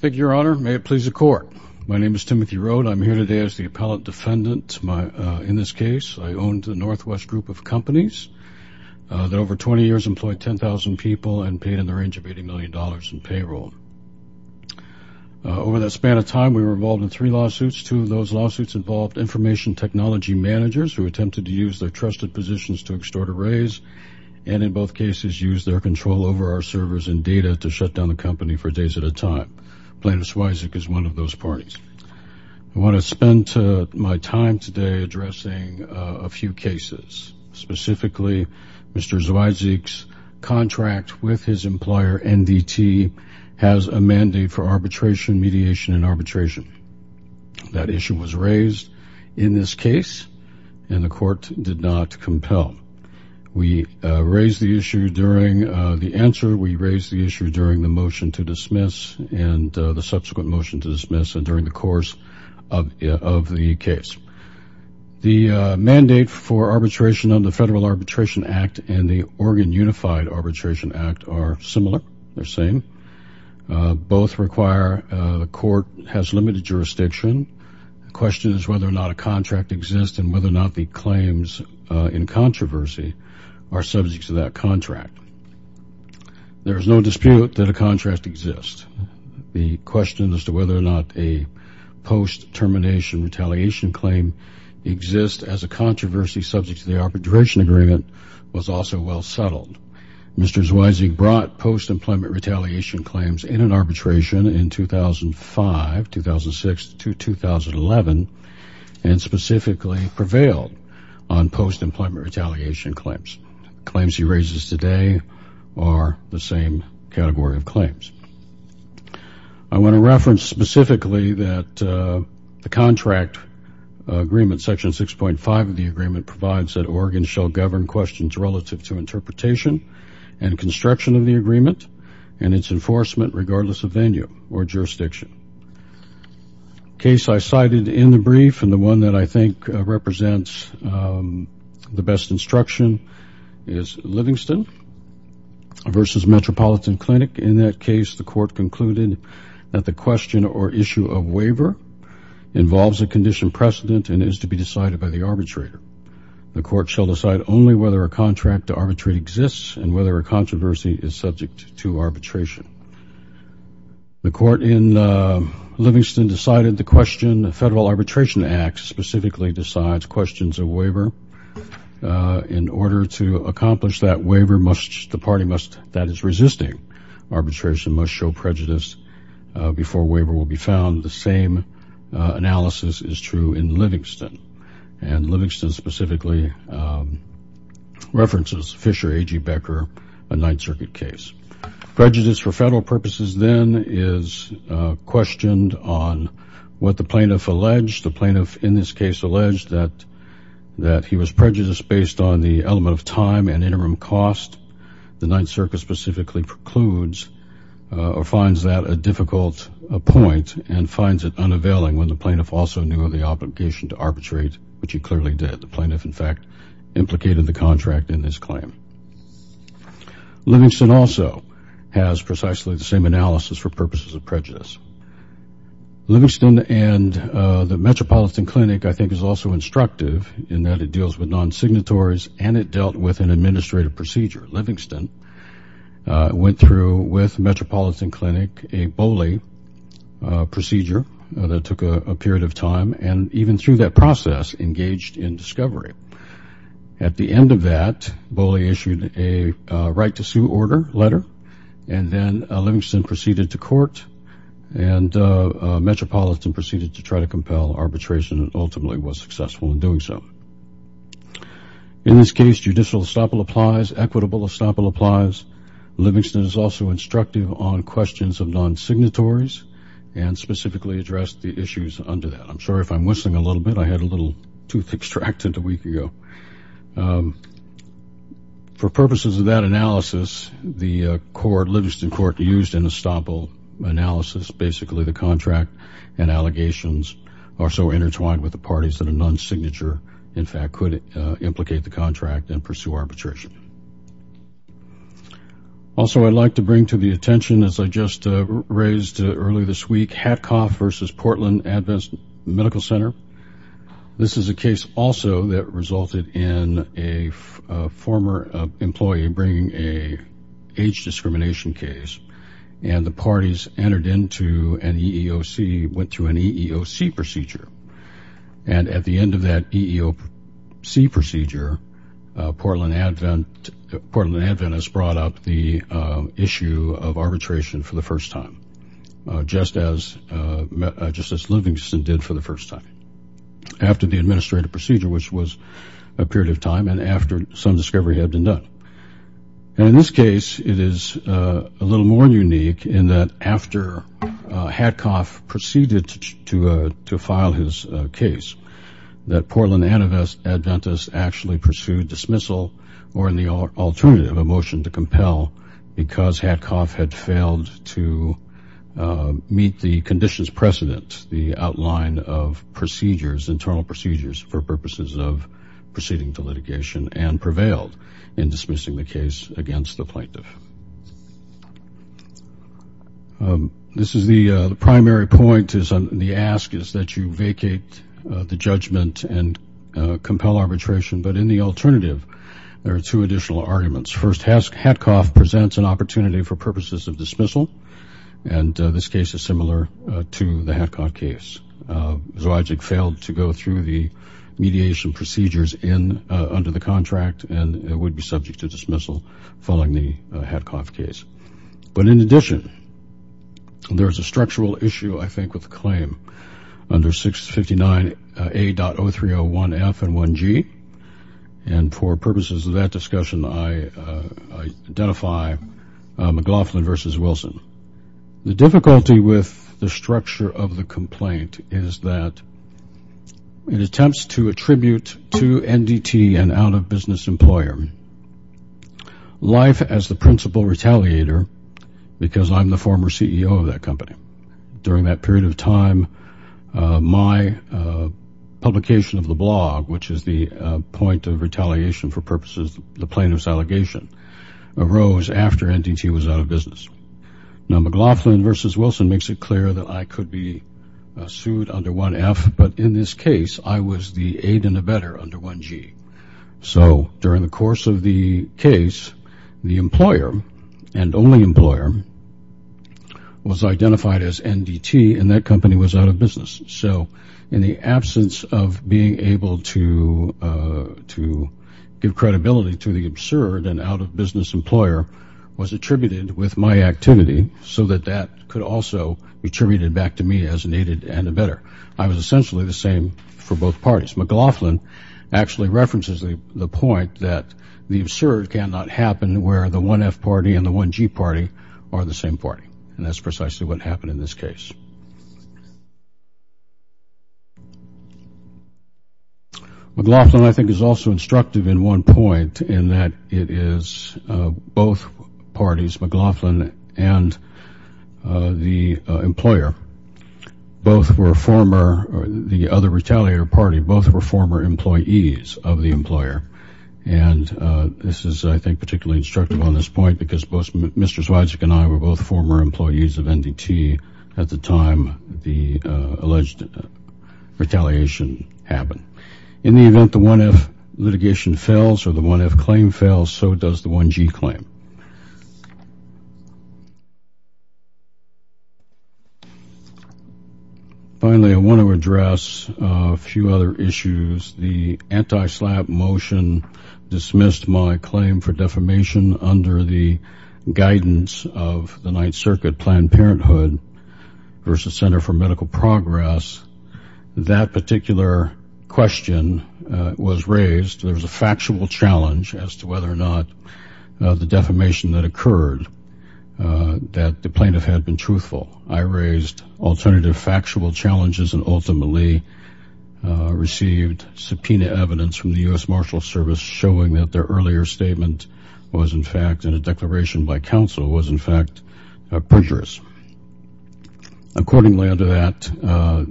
Thank you, your honor. May it please the court. My name is Timothy Rote. I'm here today as the appellate defendant. In this case, I owned the Northwest Group of Companies that over 20 years employed 10,000 people and paid in the range of 80 million dollars in payroll. Over that span of time, we were involved in three lawsuits. Two of those lawsuits involved information technology managers who attempted to use their trusted positions to extort a raise and in both cases use their control over our servers and data to shut down the company for days at a time. Plaintiff Zweizig is one of those parties. I want to spend my time today addressing a few cases. Specifically, Mr. Zweizig's contract with his employer NDT has a mandate for arbitration, mediation, and arbitration. That issue was raised in this case and the court did not compel. We raised the issue during the answer. We raised the issue during the motion to dismiss and the subsequent motion to dismiss and during the course of the case. The mandate for arbitration under the Federal Arbitration Act and the Oregon Unified Arbitration Act are similar. They're same. Both require the court has limited jurisdiction. The question is whether or not a contract exists and whether or not the claims in that contract. There is no dispute that a contract exists. The question as to whether or not a post-termination retaliation claim exists as a controversy subject to the arbitration agreement was also well settled. Mr. Zweizig brought post-employment retaliation claims in an arbitration in 2005, 2006, to 2011 and specifically prevailed on post-employment retaliation claims. Claims he raises today are the same category of claims. I want to reference specifically that the contract agreement section 6.5 of the agreement provides that Oregon shall govern questions relative to interpretation and construction of the agreement and its enforcement regardless of venue or jurisdiction. Case I cited in the brief and the one that I think represents the best instruction is Livingston versus Metropolitan Clinic. In that case, the court concluded that the question or issue of waiver involves a condition precedent and is to be decided by the arbitrator. The court shall decide only whether a contract to arbitrate exists and whether a controversy is subject to arbitration. The court in Livingston decided the question the Federal waiver in order to accomplish that waiver must the party must that is resisting arbitration must show prejudice before waiver will be found. The same analysis is true in Livingston and Livingston specifically references Fisher AG Becker a Ninth Circuit case. Prejudice for federal purposes then is questioned on what the plaintiff alleged the plaintiff in this case alleged that that he was prejudiced based on the element of time and interim cost. The Ninth Circuit specifically precludes or finds that a difficult point and finds it unavailing when the plaintiff also knew of the obligation to arbitrate which he clearly did. The plaintiff in fact implicated the contract in this claim. Livingston also has precisely the same analysis for Livingston and the Metropolitan Clinic I think is also instructive in that it deals with non-signatories and it dealt with an administrative procedure. Livingston went through with Metropolitan Clinic a BOLI procedure that took a period of time and even through that process engaged in discovery. At the end of that BOLI issued a right to sue order letter and then and Metropolitan proceeded to try to compel arbitration and ultimately was successful in doing so. In this case judicial estoppel applies, equitable estoppel applies, Livingston is also instructive on questions of non signatories and specifically addressed the issues under that. I'm sorry if I'm whistling a little bit I had a little tooth extracted a week ago. For purposes of that analysis the court, Livingston court used an estoppel analysis basically the contract and allegations are so intertwined with the parties that a non-signature in fact could implicate the contract and pursue arbitration. Also I'd like to bring to the attention as I just raised earlier this week, Hatcoff versus Portland Adventist Medical Center. This is a case also that resulted in a former employee bringing a age discrimination case and the parties entered into an EEOC went through an EEOC procedure and at the end of that EEOC procedure Portland Advent Portland Adventist brought up the issue of arbitration for the first time just as just as Livingston did for the first time. After the administrative procedure which was a period of time and after some discovery had been done. And in this case it is a little more unique in that after Hatcoff proceeded to file his case that Portland Adventist actually pursued dismissal or in the alternative a motion to compel because Hatcoff had failed to meet the conditions precedent the outline of procedures internal procedures for purposes of proceeding to litigation and prevailed in dismissing the case against the plaintiff. This is the primary point is on the ask is that you vacate the judgment and compel arbitration but in the alternative there are two additional arguments first has Hatcoff presents an opportunity for purposes of dismissal and this case is similar to the Hatcoff case. Zwojcik failed to go through the mediation procedures in under the contract and it would be subject to dismissal following the Hatcoff case. But in addition there's a structural issue I think with claim under 659 A.0301F and 1G and for purposes of that discussion I identify McLaughlin versus Wilson. The difficulty with the structure of the complaint is that it attempts to attribute to NDT and out-of-business employer life as the principal retaliator because I'm the former CEO of that company. During that period of time my publication of the blog which is the point of retaliation for purposes the plaintiff's allegation arose after NDT was out of business. Now in this case I was the aid and a better under 1G. So during the course of the case the employer and only employer was identified as NDT and that company was out of business. So in the absence of being able to to give credibility to the absurd and out-of-business employer was attributed with my activity so that that could also be attributed back to me as an aided and a better. I was essentially the same for both parties. McLaughlin actually references the point that the absurd cannot happen where the 1F party and the 1G party are the same party and that's precisely what happened in this case. McLaughlin I think is also the employer. Both were former or the other retaliator party both were former employees of the employer and this is I think particularly instructive on this point because both Mr. Zwijek and I were both former employees of NDT at the time the alleged retaliation happened. In the event the 1F litigation fails or the 1F claim fails so does the 1G claim. Finally I want to address a few other issues. The anti-SLAPP motion dismissed my claim for defamation under the guidance of the Ninth Circuit Planned Parenthood versus Center for Medical Progress. That particular question was raised. There's a factual challenge as to whether or not the defamation that the plaintiff had been truthful. I raised alternative factual challenges and ultimately received subpoena evidence from the US Marshals Service showing that their earlier statement was in fact in a declaration by counsel was in fact perjurous. Accordingly under that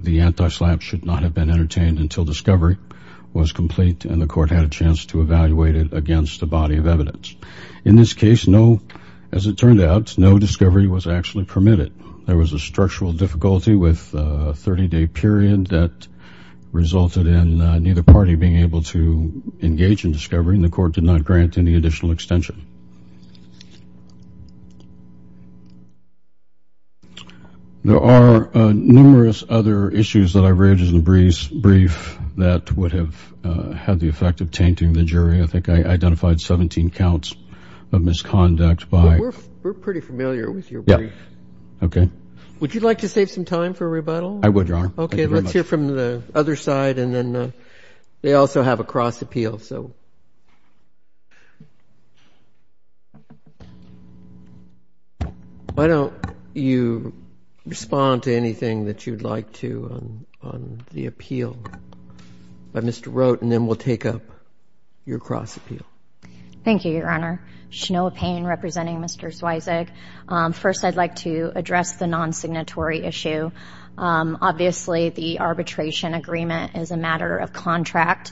the anti-SLAPP should not have been entertained until discovery was complete and the court had a chance to evaluate it against the body of evidence. In this case no as it turned out no discovery was actually permitted. There was a structural difficulty with a 30-day period that resulted in neither party being able to engage in discovery and the court did not grant any additional extension. There are numerous other issues that I've raised in the brief that would have had the effect of I think I identified 17 counts of misconduct by. We're pretty familiar with your brief. Okay. Would you like to save some time for a rebuttal? I would Your Honor. Okay let's hear from the other side and then they also have a cross-appeal so why don't you respond to anything that you'd like to on the appeal by Mr. Roat and then we'll take up your cross-appeal. Thank you Your Honor. Shanoa Payne representing Mr. Sweizig. First I'd like to address the non-signatory issue. Obviously the arbitration agreement is a matter of contract.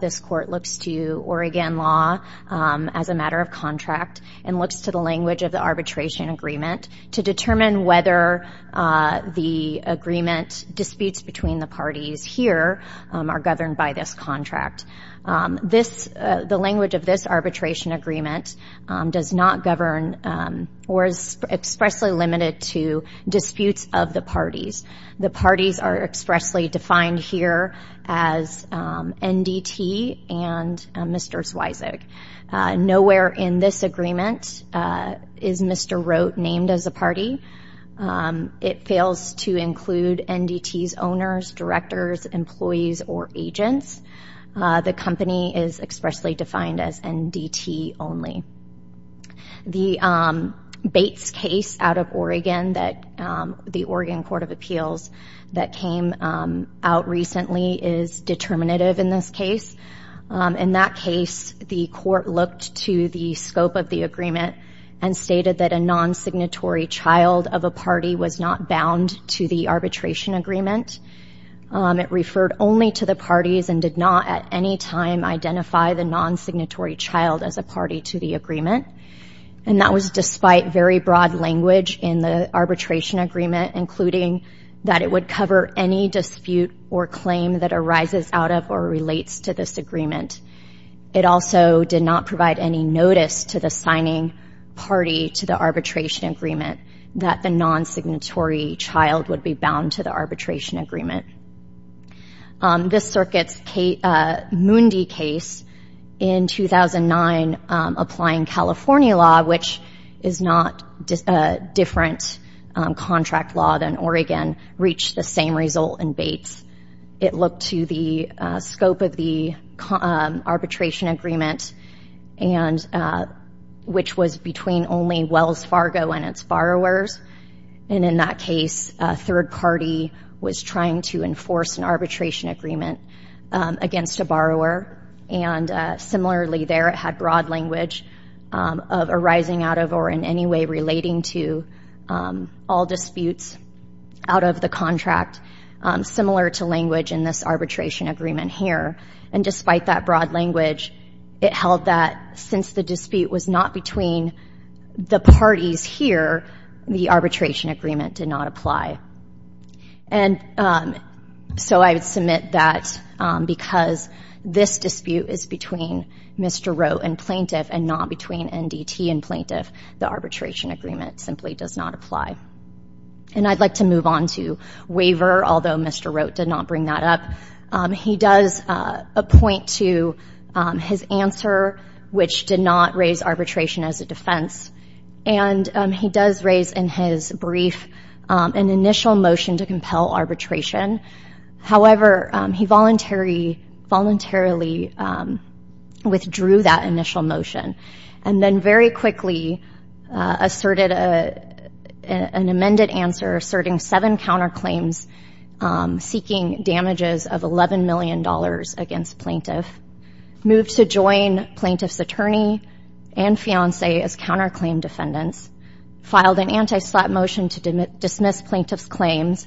This court looks to Oregon law as a matter of contract and looks to the language of the arbitration agreement to determine whether the agreement disputes between the parties here are governed by this contract. The language of this arbitration agreement does not govern or is expressly limited to disputes of the parties. The parties are expressly defined here as NDT and Mr. Sweizig. Nowhere in this agreement is Mr. Roat named as a party. It fails to include NDT's owners, directors, employees, or agents. The company is expressly defined as NDT only. The Bates case out of Oregon that the Oregon Court of Appeals that came out recently is determinative in this case. In that case the court looked to the scope of the agreement and stated that a non-signatory child of a party was not bound to the arbitration agreement. It referred only to the parties and did not at any time identify the non-signatory child as a party to the agreement. And that was despite very broad language in the arbitration agreement including that it would cover any dispute or claim that arises out of or relates to this agreement. It also did not provide any notice to the signing party to the arbitration agreement that the non-signatory child would be bound to the arbitration agreement. This circuit's Moondy case in 2009 applying California law which is not a different contract law than Oregon reached the same result in Bates. It looked to the scope of the arbitration agreement and which was between only Wells Fargo and its borrowers. And in that case a third party was trying to enforce an arbitration agreement against a borrower. And similarly there it had broad language of arising out of or in any way relating to all disputes out of the contract similar to language in this arbitration agreement here. And despite that broad language it held that since the dispute was not between the parties here the arbitration agreement did not apply. And so I would submit that because this dispute is between Mr. Wrote and plaintiff and not between NDT and plaintiff the arbitration agreement simply does not apply. And I'd like to move on to waiver although Mr. Wrote did not bring that up. He does a point to his answer which did not raise arbitration as a defense. And he does raise in his brief an initial motion to compel arbitration. However, he voluntarily voluntarily withdrew that initial motion and then very quickly asserted a an amended answer asserting seven counterclaims seeking damages of 11 million dollars against plaintiff. Moved to join plaintiff's attorney and fiance as counterclaim defendants. Filed an anti-slap motion to dismiss plaintiff's claims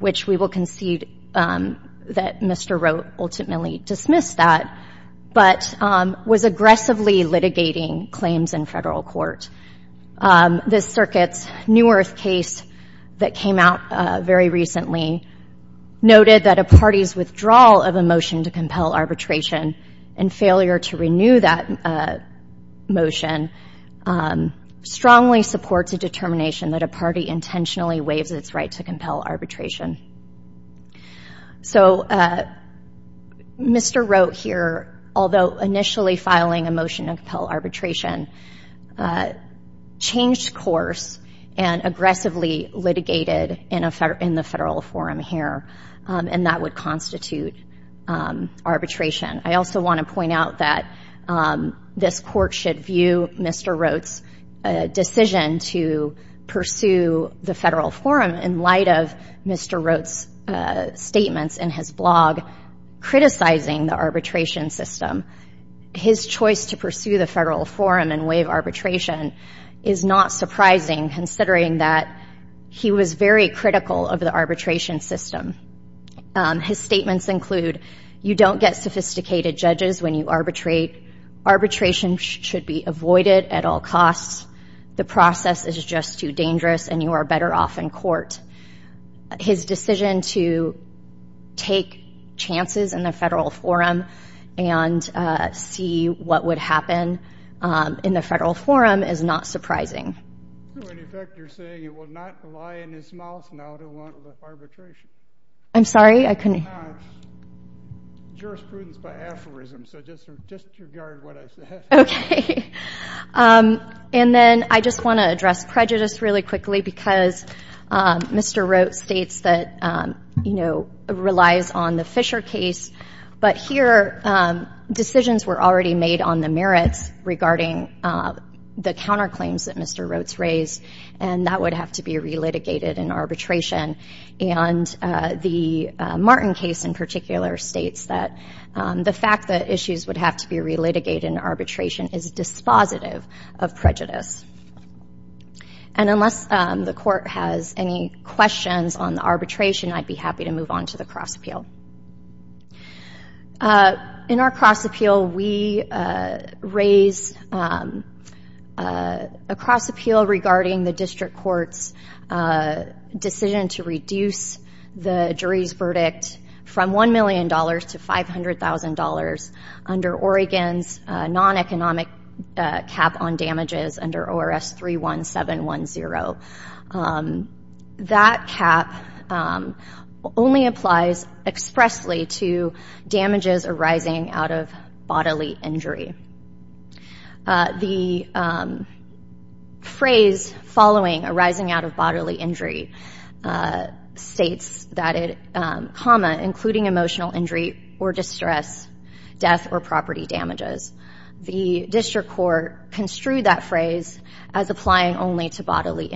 which we will concede that Mr. Wrote ultimately dismissed that but was aggressively litigating claims in federal court. This circuit's New Earth case that came out very recently noted that a party's withdrawal of a motion to compel arbitration and failure to renew that motion strongly supports a determination that a party intentionally waives its right to compel arbitration. So Mr. Wrote here although initially filing a motion to compel arbitration changed course and aggressively litigated in the federal forum here and that would constitute arbitration. I also want to point out that this court should view Mr. Wrote's decision to pursue the federal forum in light of Mr. Wrote's statements in his blog criticizing the arbitration system. His choice to pursue the federal forum and waive arbitration is not surprising considering that he was very critical of the arbitration system. His statements include you don't get sophisticated judges when you arbitrate. Arbitration should be avoided at all costs. The process is just too dangerous and you are better off in court. His decision to take chances in the federal forum and see what would happen in the federal forum is not surprising. I'm sorry I couldn't. Okay and then I just want to address prejudice really quickly because Mr. Wrote states that you know relies on the Fisher case but here decisions were already made on the merits regarding the counterclaims that Mr. Wrote's raised and that would have to be re-litigated in arbitration and the Martin case in particular states that the fact that issues would have to be re-litigated in arbitration is dispositive of prejudice and unless the court has any questions on the arbitration I'd be happy to move on to the cross appeal. In our cross appeal we raise a cross appeal regarding the district court's decision to reduce the jury's verdict from $1 million to $500,000 under Oregon's non-economic cap on damages under ORS 31710. That cap only applies expressly to damages arising out of bodily injury. The phrase following arising out of bodily injury states that it comma including emotional injury or distress death or property damages. The district court construed that phrase as applying only to bodily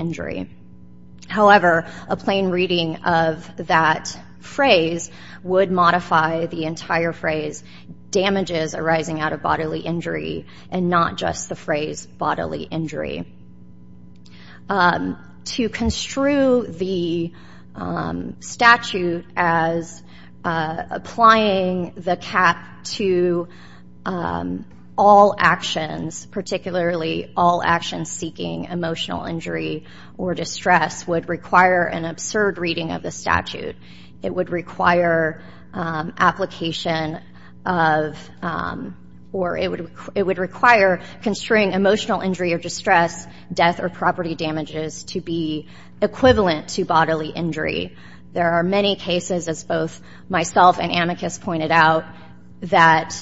damages arising out of bodily injury and not just the phrase bodily injury. To construe the statute as applying the cap to all actions particularly all actions seeking emotional injury or distress would require an absurd reading of the or it would require construing emotional injury or distress death or property damages to be equivalent to bodily injury. There are many cases as both myself and amicus pointed out that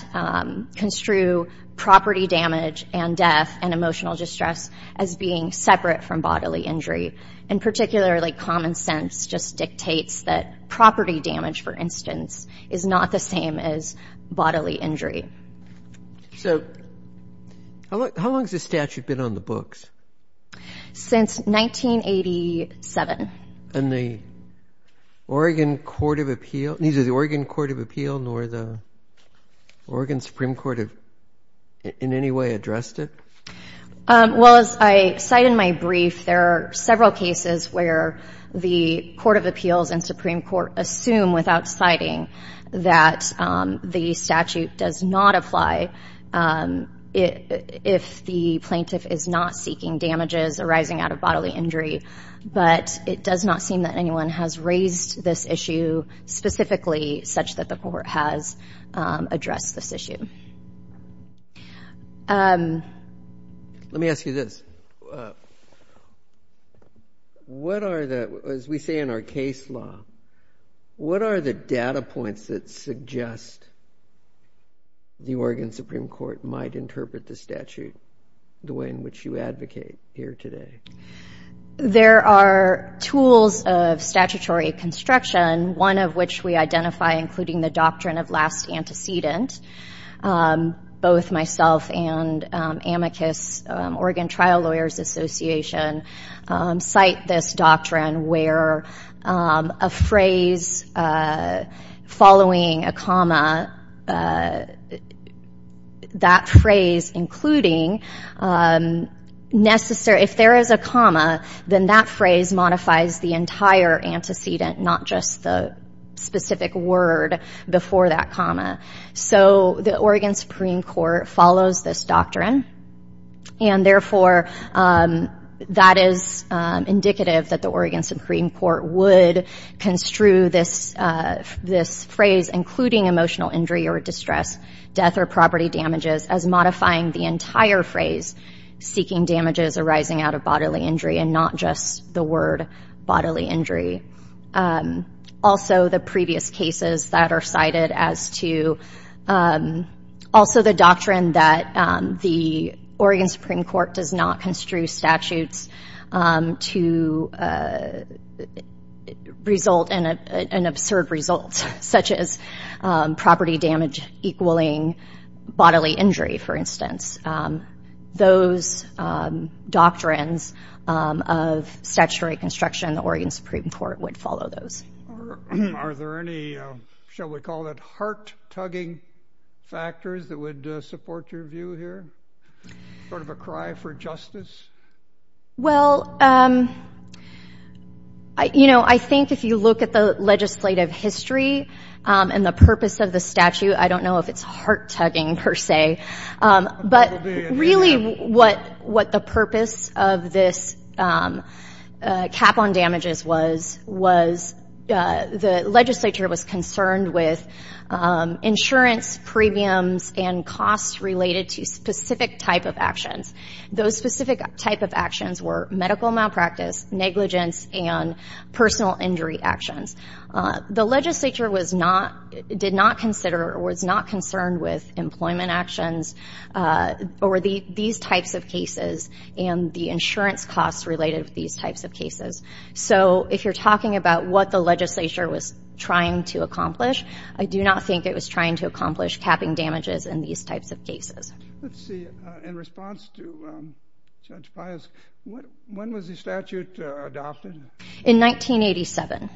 construe property damage and death and emotional distress as being separate from bodily injury and particularly common sense just dictates that property damage for instance is not the same as bodily injury. So how long has the statute been on the books? Since 1987. And the Oregon Court of Appeal neither the Oregon Court of Appeal nor the Oregon Supreme Court have in any way addressed it? Well as I cite in my brief there are several cases where the Court of Appeals and Supreme Court assume without citing that the statute does not apply if the plaintiff is not seeking damages arising out of bodily injury but it does not seem that anyone has raised this issue specifically such that the court has addressed this issue. Let me ask you this. What are the as we say in our case law what are the data points that suggest the Oregon Supreme Court might interpret the statute the way in which you advocate here today? There are tools of statutory construction one of which we identify including the doctrine of last antecedent. Both myself and amicus Oregon where a phrase following a comma that phrase including necessary if there is a comma then that phrase modifies the entire antecedent not just the specific word before that comma. So the Oregon Supreme Court follows this doctrine and therefore that is indicative that the Oregon Supreme Court would construe this this phrase including emotional injury or distress death or property damages as modifying the entire phrase seeking damages arising out of bodily injury and not just the word bodily injury. Also the previous cases that are cited as to also the doctrine that the Oregon Supreme Court does not construe statutes to result in an absurd results such as property damage equaling bodily injury for instance. Those doctrines of statutory construction the Oregon Supreme Court would follow those. Are there any shall we call it heart-tugging factors that would support your view here? Sort of a cry for justice? Well you know I think if you look at the legislative history and the purpose of the statute I don't know if it's heart-tugging per se but really what what the purpose of this cap on damages was was the legislature was concerned with insurance premiums and costs related to specific type of actions. Those specific type of actions were medical malpractice negligence and personal injury actions. The legislature was not did not consider or it's not concerned with employment actions or the these types of cases and the insurance costs related these types of cases. So if you're talking about what the legislature was trying to accomplish I do not think it was trying to accomplish capping damages in these types of cases. Let's see in response to Judge Pius, when was the statute adopted? In 1987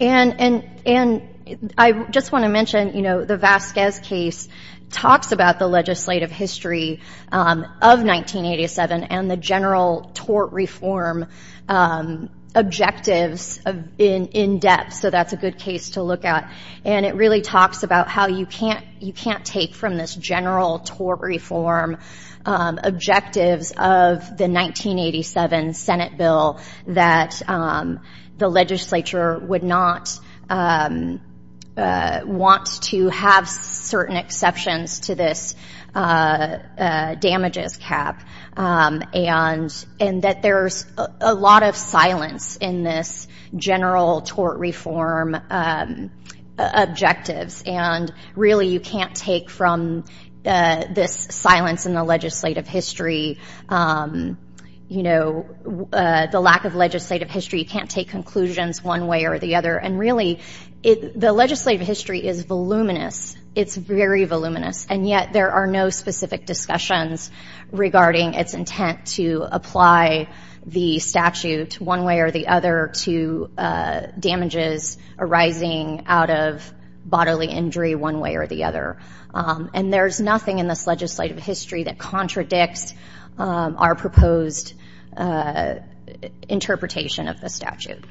and I just want to mention you know the Vasquez case talks about the legislative history of 1987 and the general tort reform objectives in in depth so that's a good case to look at and it really talks about how you can't you can't take from this general tort reform objectives of the 1987 Senate bill that the legislature would not want to have certain exceptions to this damages cap and that there's a lot of silence in this general tort reform objectives and really you can't take from this silence in the legislative history you know the lack of one way or the other and really the legislative history is voluminous it's very voluminous and yet there are no specific discussions regarding its intent to apply the statute one way or the other to damages arising out of bodily injury one way or the other and there's nothing in this legislative history that contradicts our proposed interpretation of the statute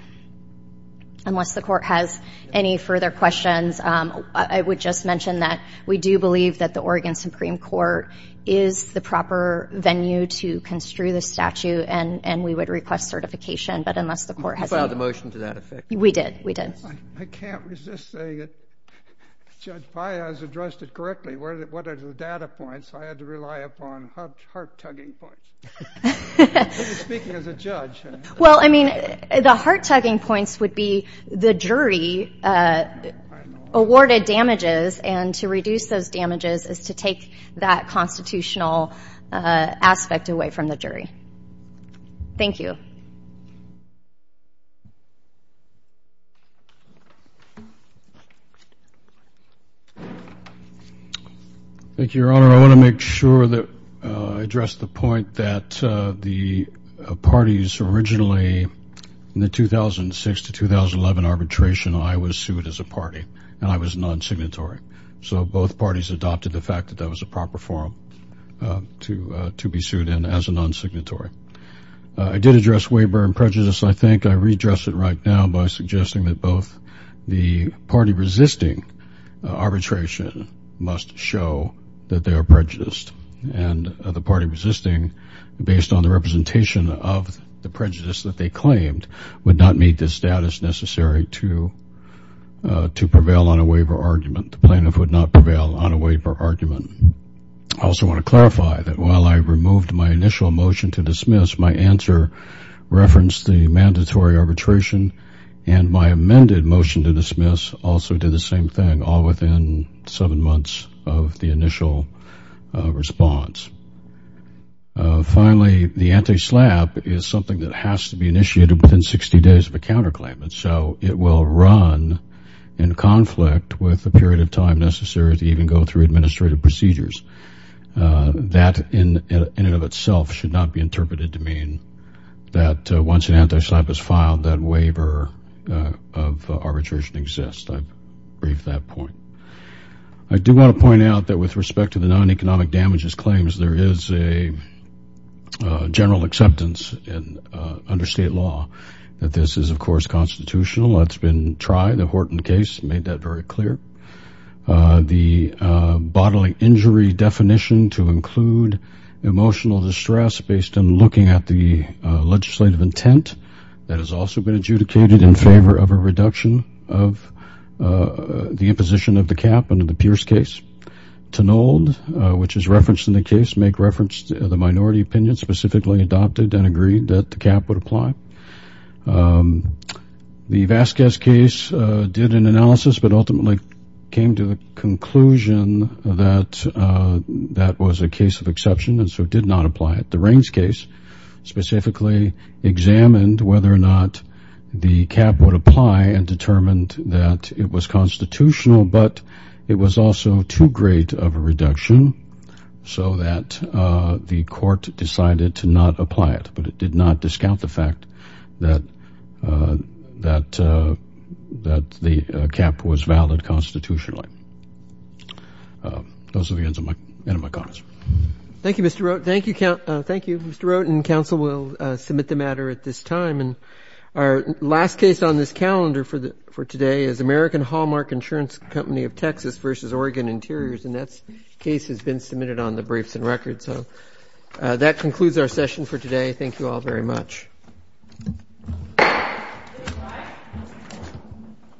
unless the court has any further questions I would just mention that we do believe that the Oregon Supreme Court is the proper venue to construe the statute and and we would request certification but unless the court has a motion to that effect we did I can't resist saying that Judge Paya has addressed it correctly. What are the data points? I had to rely upon heart-tugging points. Well I mean the heart-tugging points would be the jury awarded damages and to reduce those damages is to take that constitutional aspect away from the jury thank you thank you your honor I want to make sure that I address the point that the parties originally in the 2006 to 2011 arbitration I was sued as a party and I was non-signatory so both parties adopted the fact that that was a proper forum to to be sued in as a non-signatory I did address waiver and both the party resisting arbitration must show that they are prejudiced and the party resisting based on the representation of the prejudice that they claimed would not meet the status necessary to to prevail on a waiver argument the plaintiff would not prevail on a waiver argument I also want to clarify that while I removed my initial motion to dismiss my answer referenced the mandatory arbitration and my amended motion to dismiss also did the same thing all within seven months of the initial response finally the anti-slap is something that has to be initiated within 60 days of a counterclaim and so it will run in conflict with the period of time necessary to even go through administrative procedures that in and of itself should not be interpreted to mean that once an anti-slap is filed that waiver of arbitration exists I brief that point I do want to point out that with respect to the non-economic damages claims there is a general acceptance and under state law that this is of course constitutional it's been tried the Horton case made that very clear the bodily injury definition to stress based on looking at the legislative intent that has also been adjudicated in favor of a reduction of the imposition of the cap under the Pierce case to nold which is referenced in the case make reference to the minority opinion specifically adopted and agreed that the cap would apply the Vasquez case did an analysis but ultimately came to the conclusion that that was a case of exception and so did not apply it the rings case specifically examined whether or not the cap would apply and determined that it was constitutional but it was also too great of a reduction so that the court decided to not apply it but it did not discount the fact that that that the cap was valid constitutionally those are the ends of my end of my comments thank you mr. wrote thank you count thank you mr. wrote and counsel will submit the matter at this time and our last case on this calendar for the for today is American Hallmark insurance company of Texas versus Oregon interiors and that's case has been submitted on the briefs and records so that concludes our session for today thank you all very much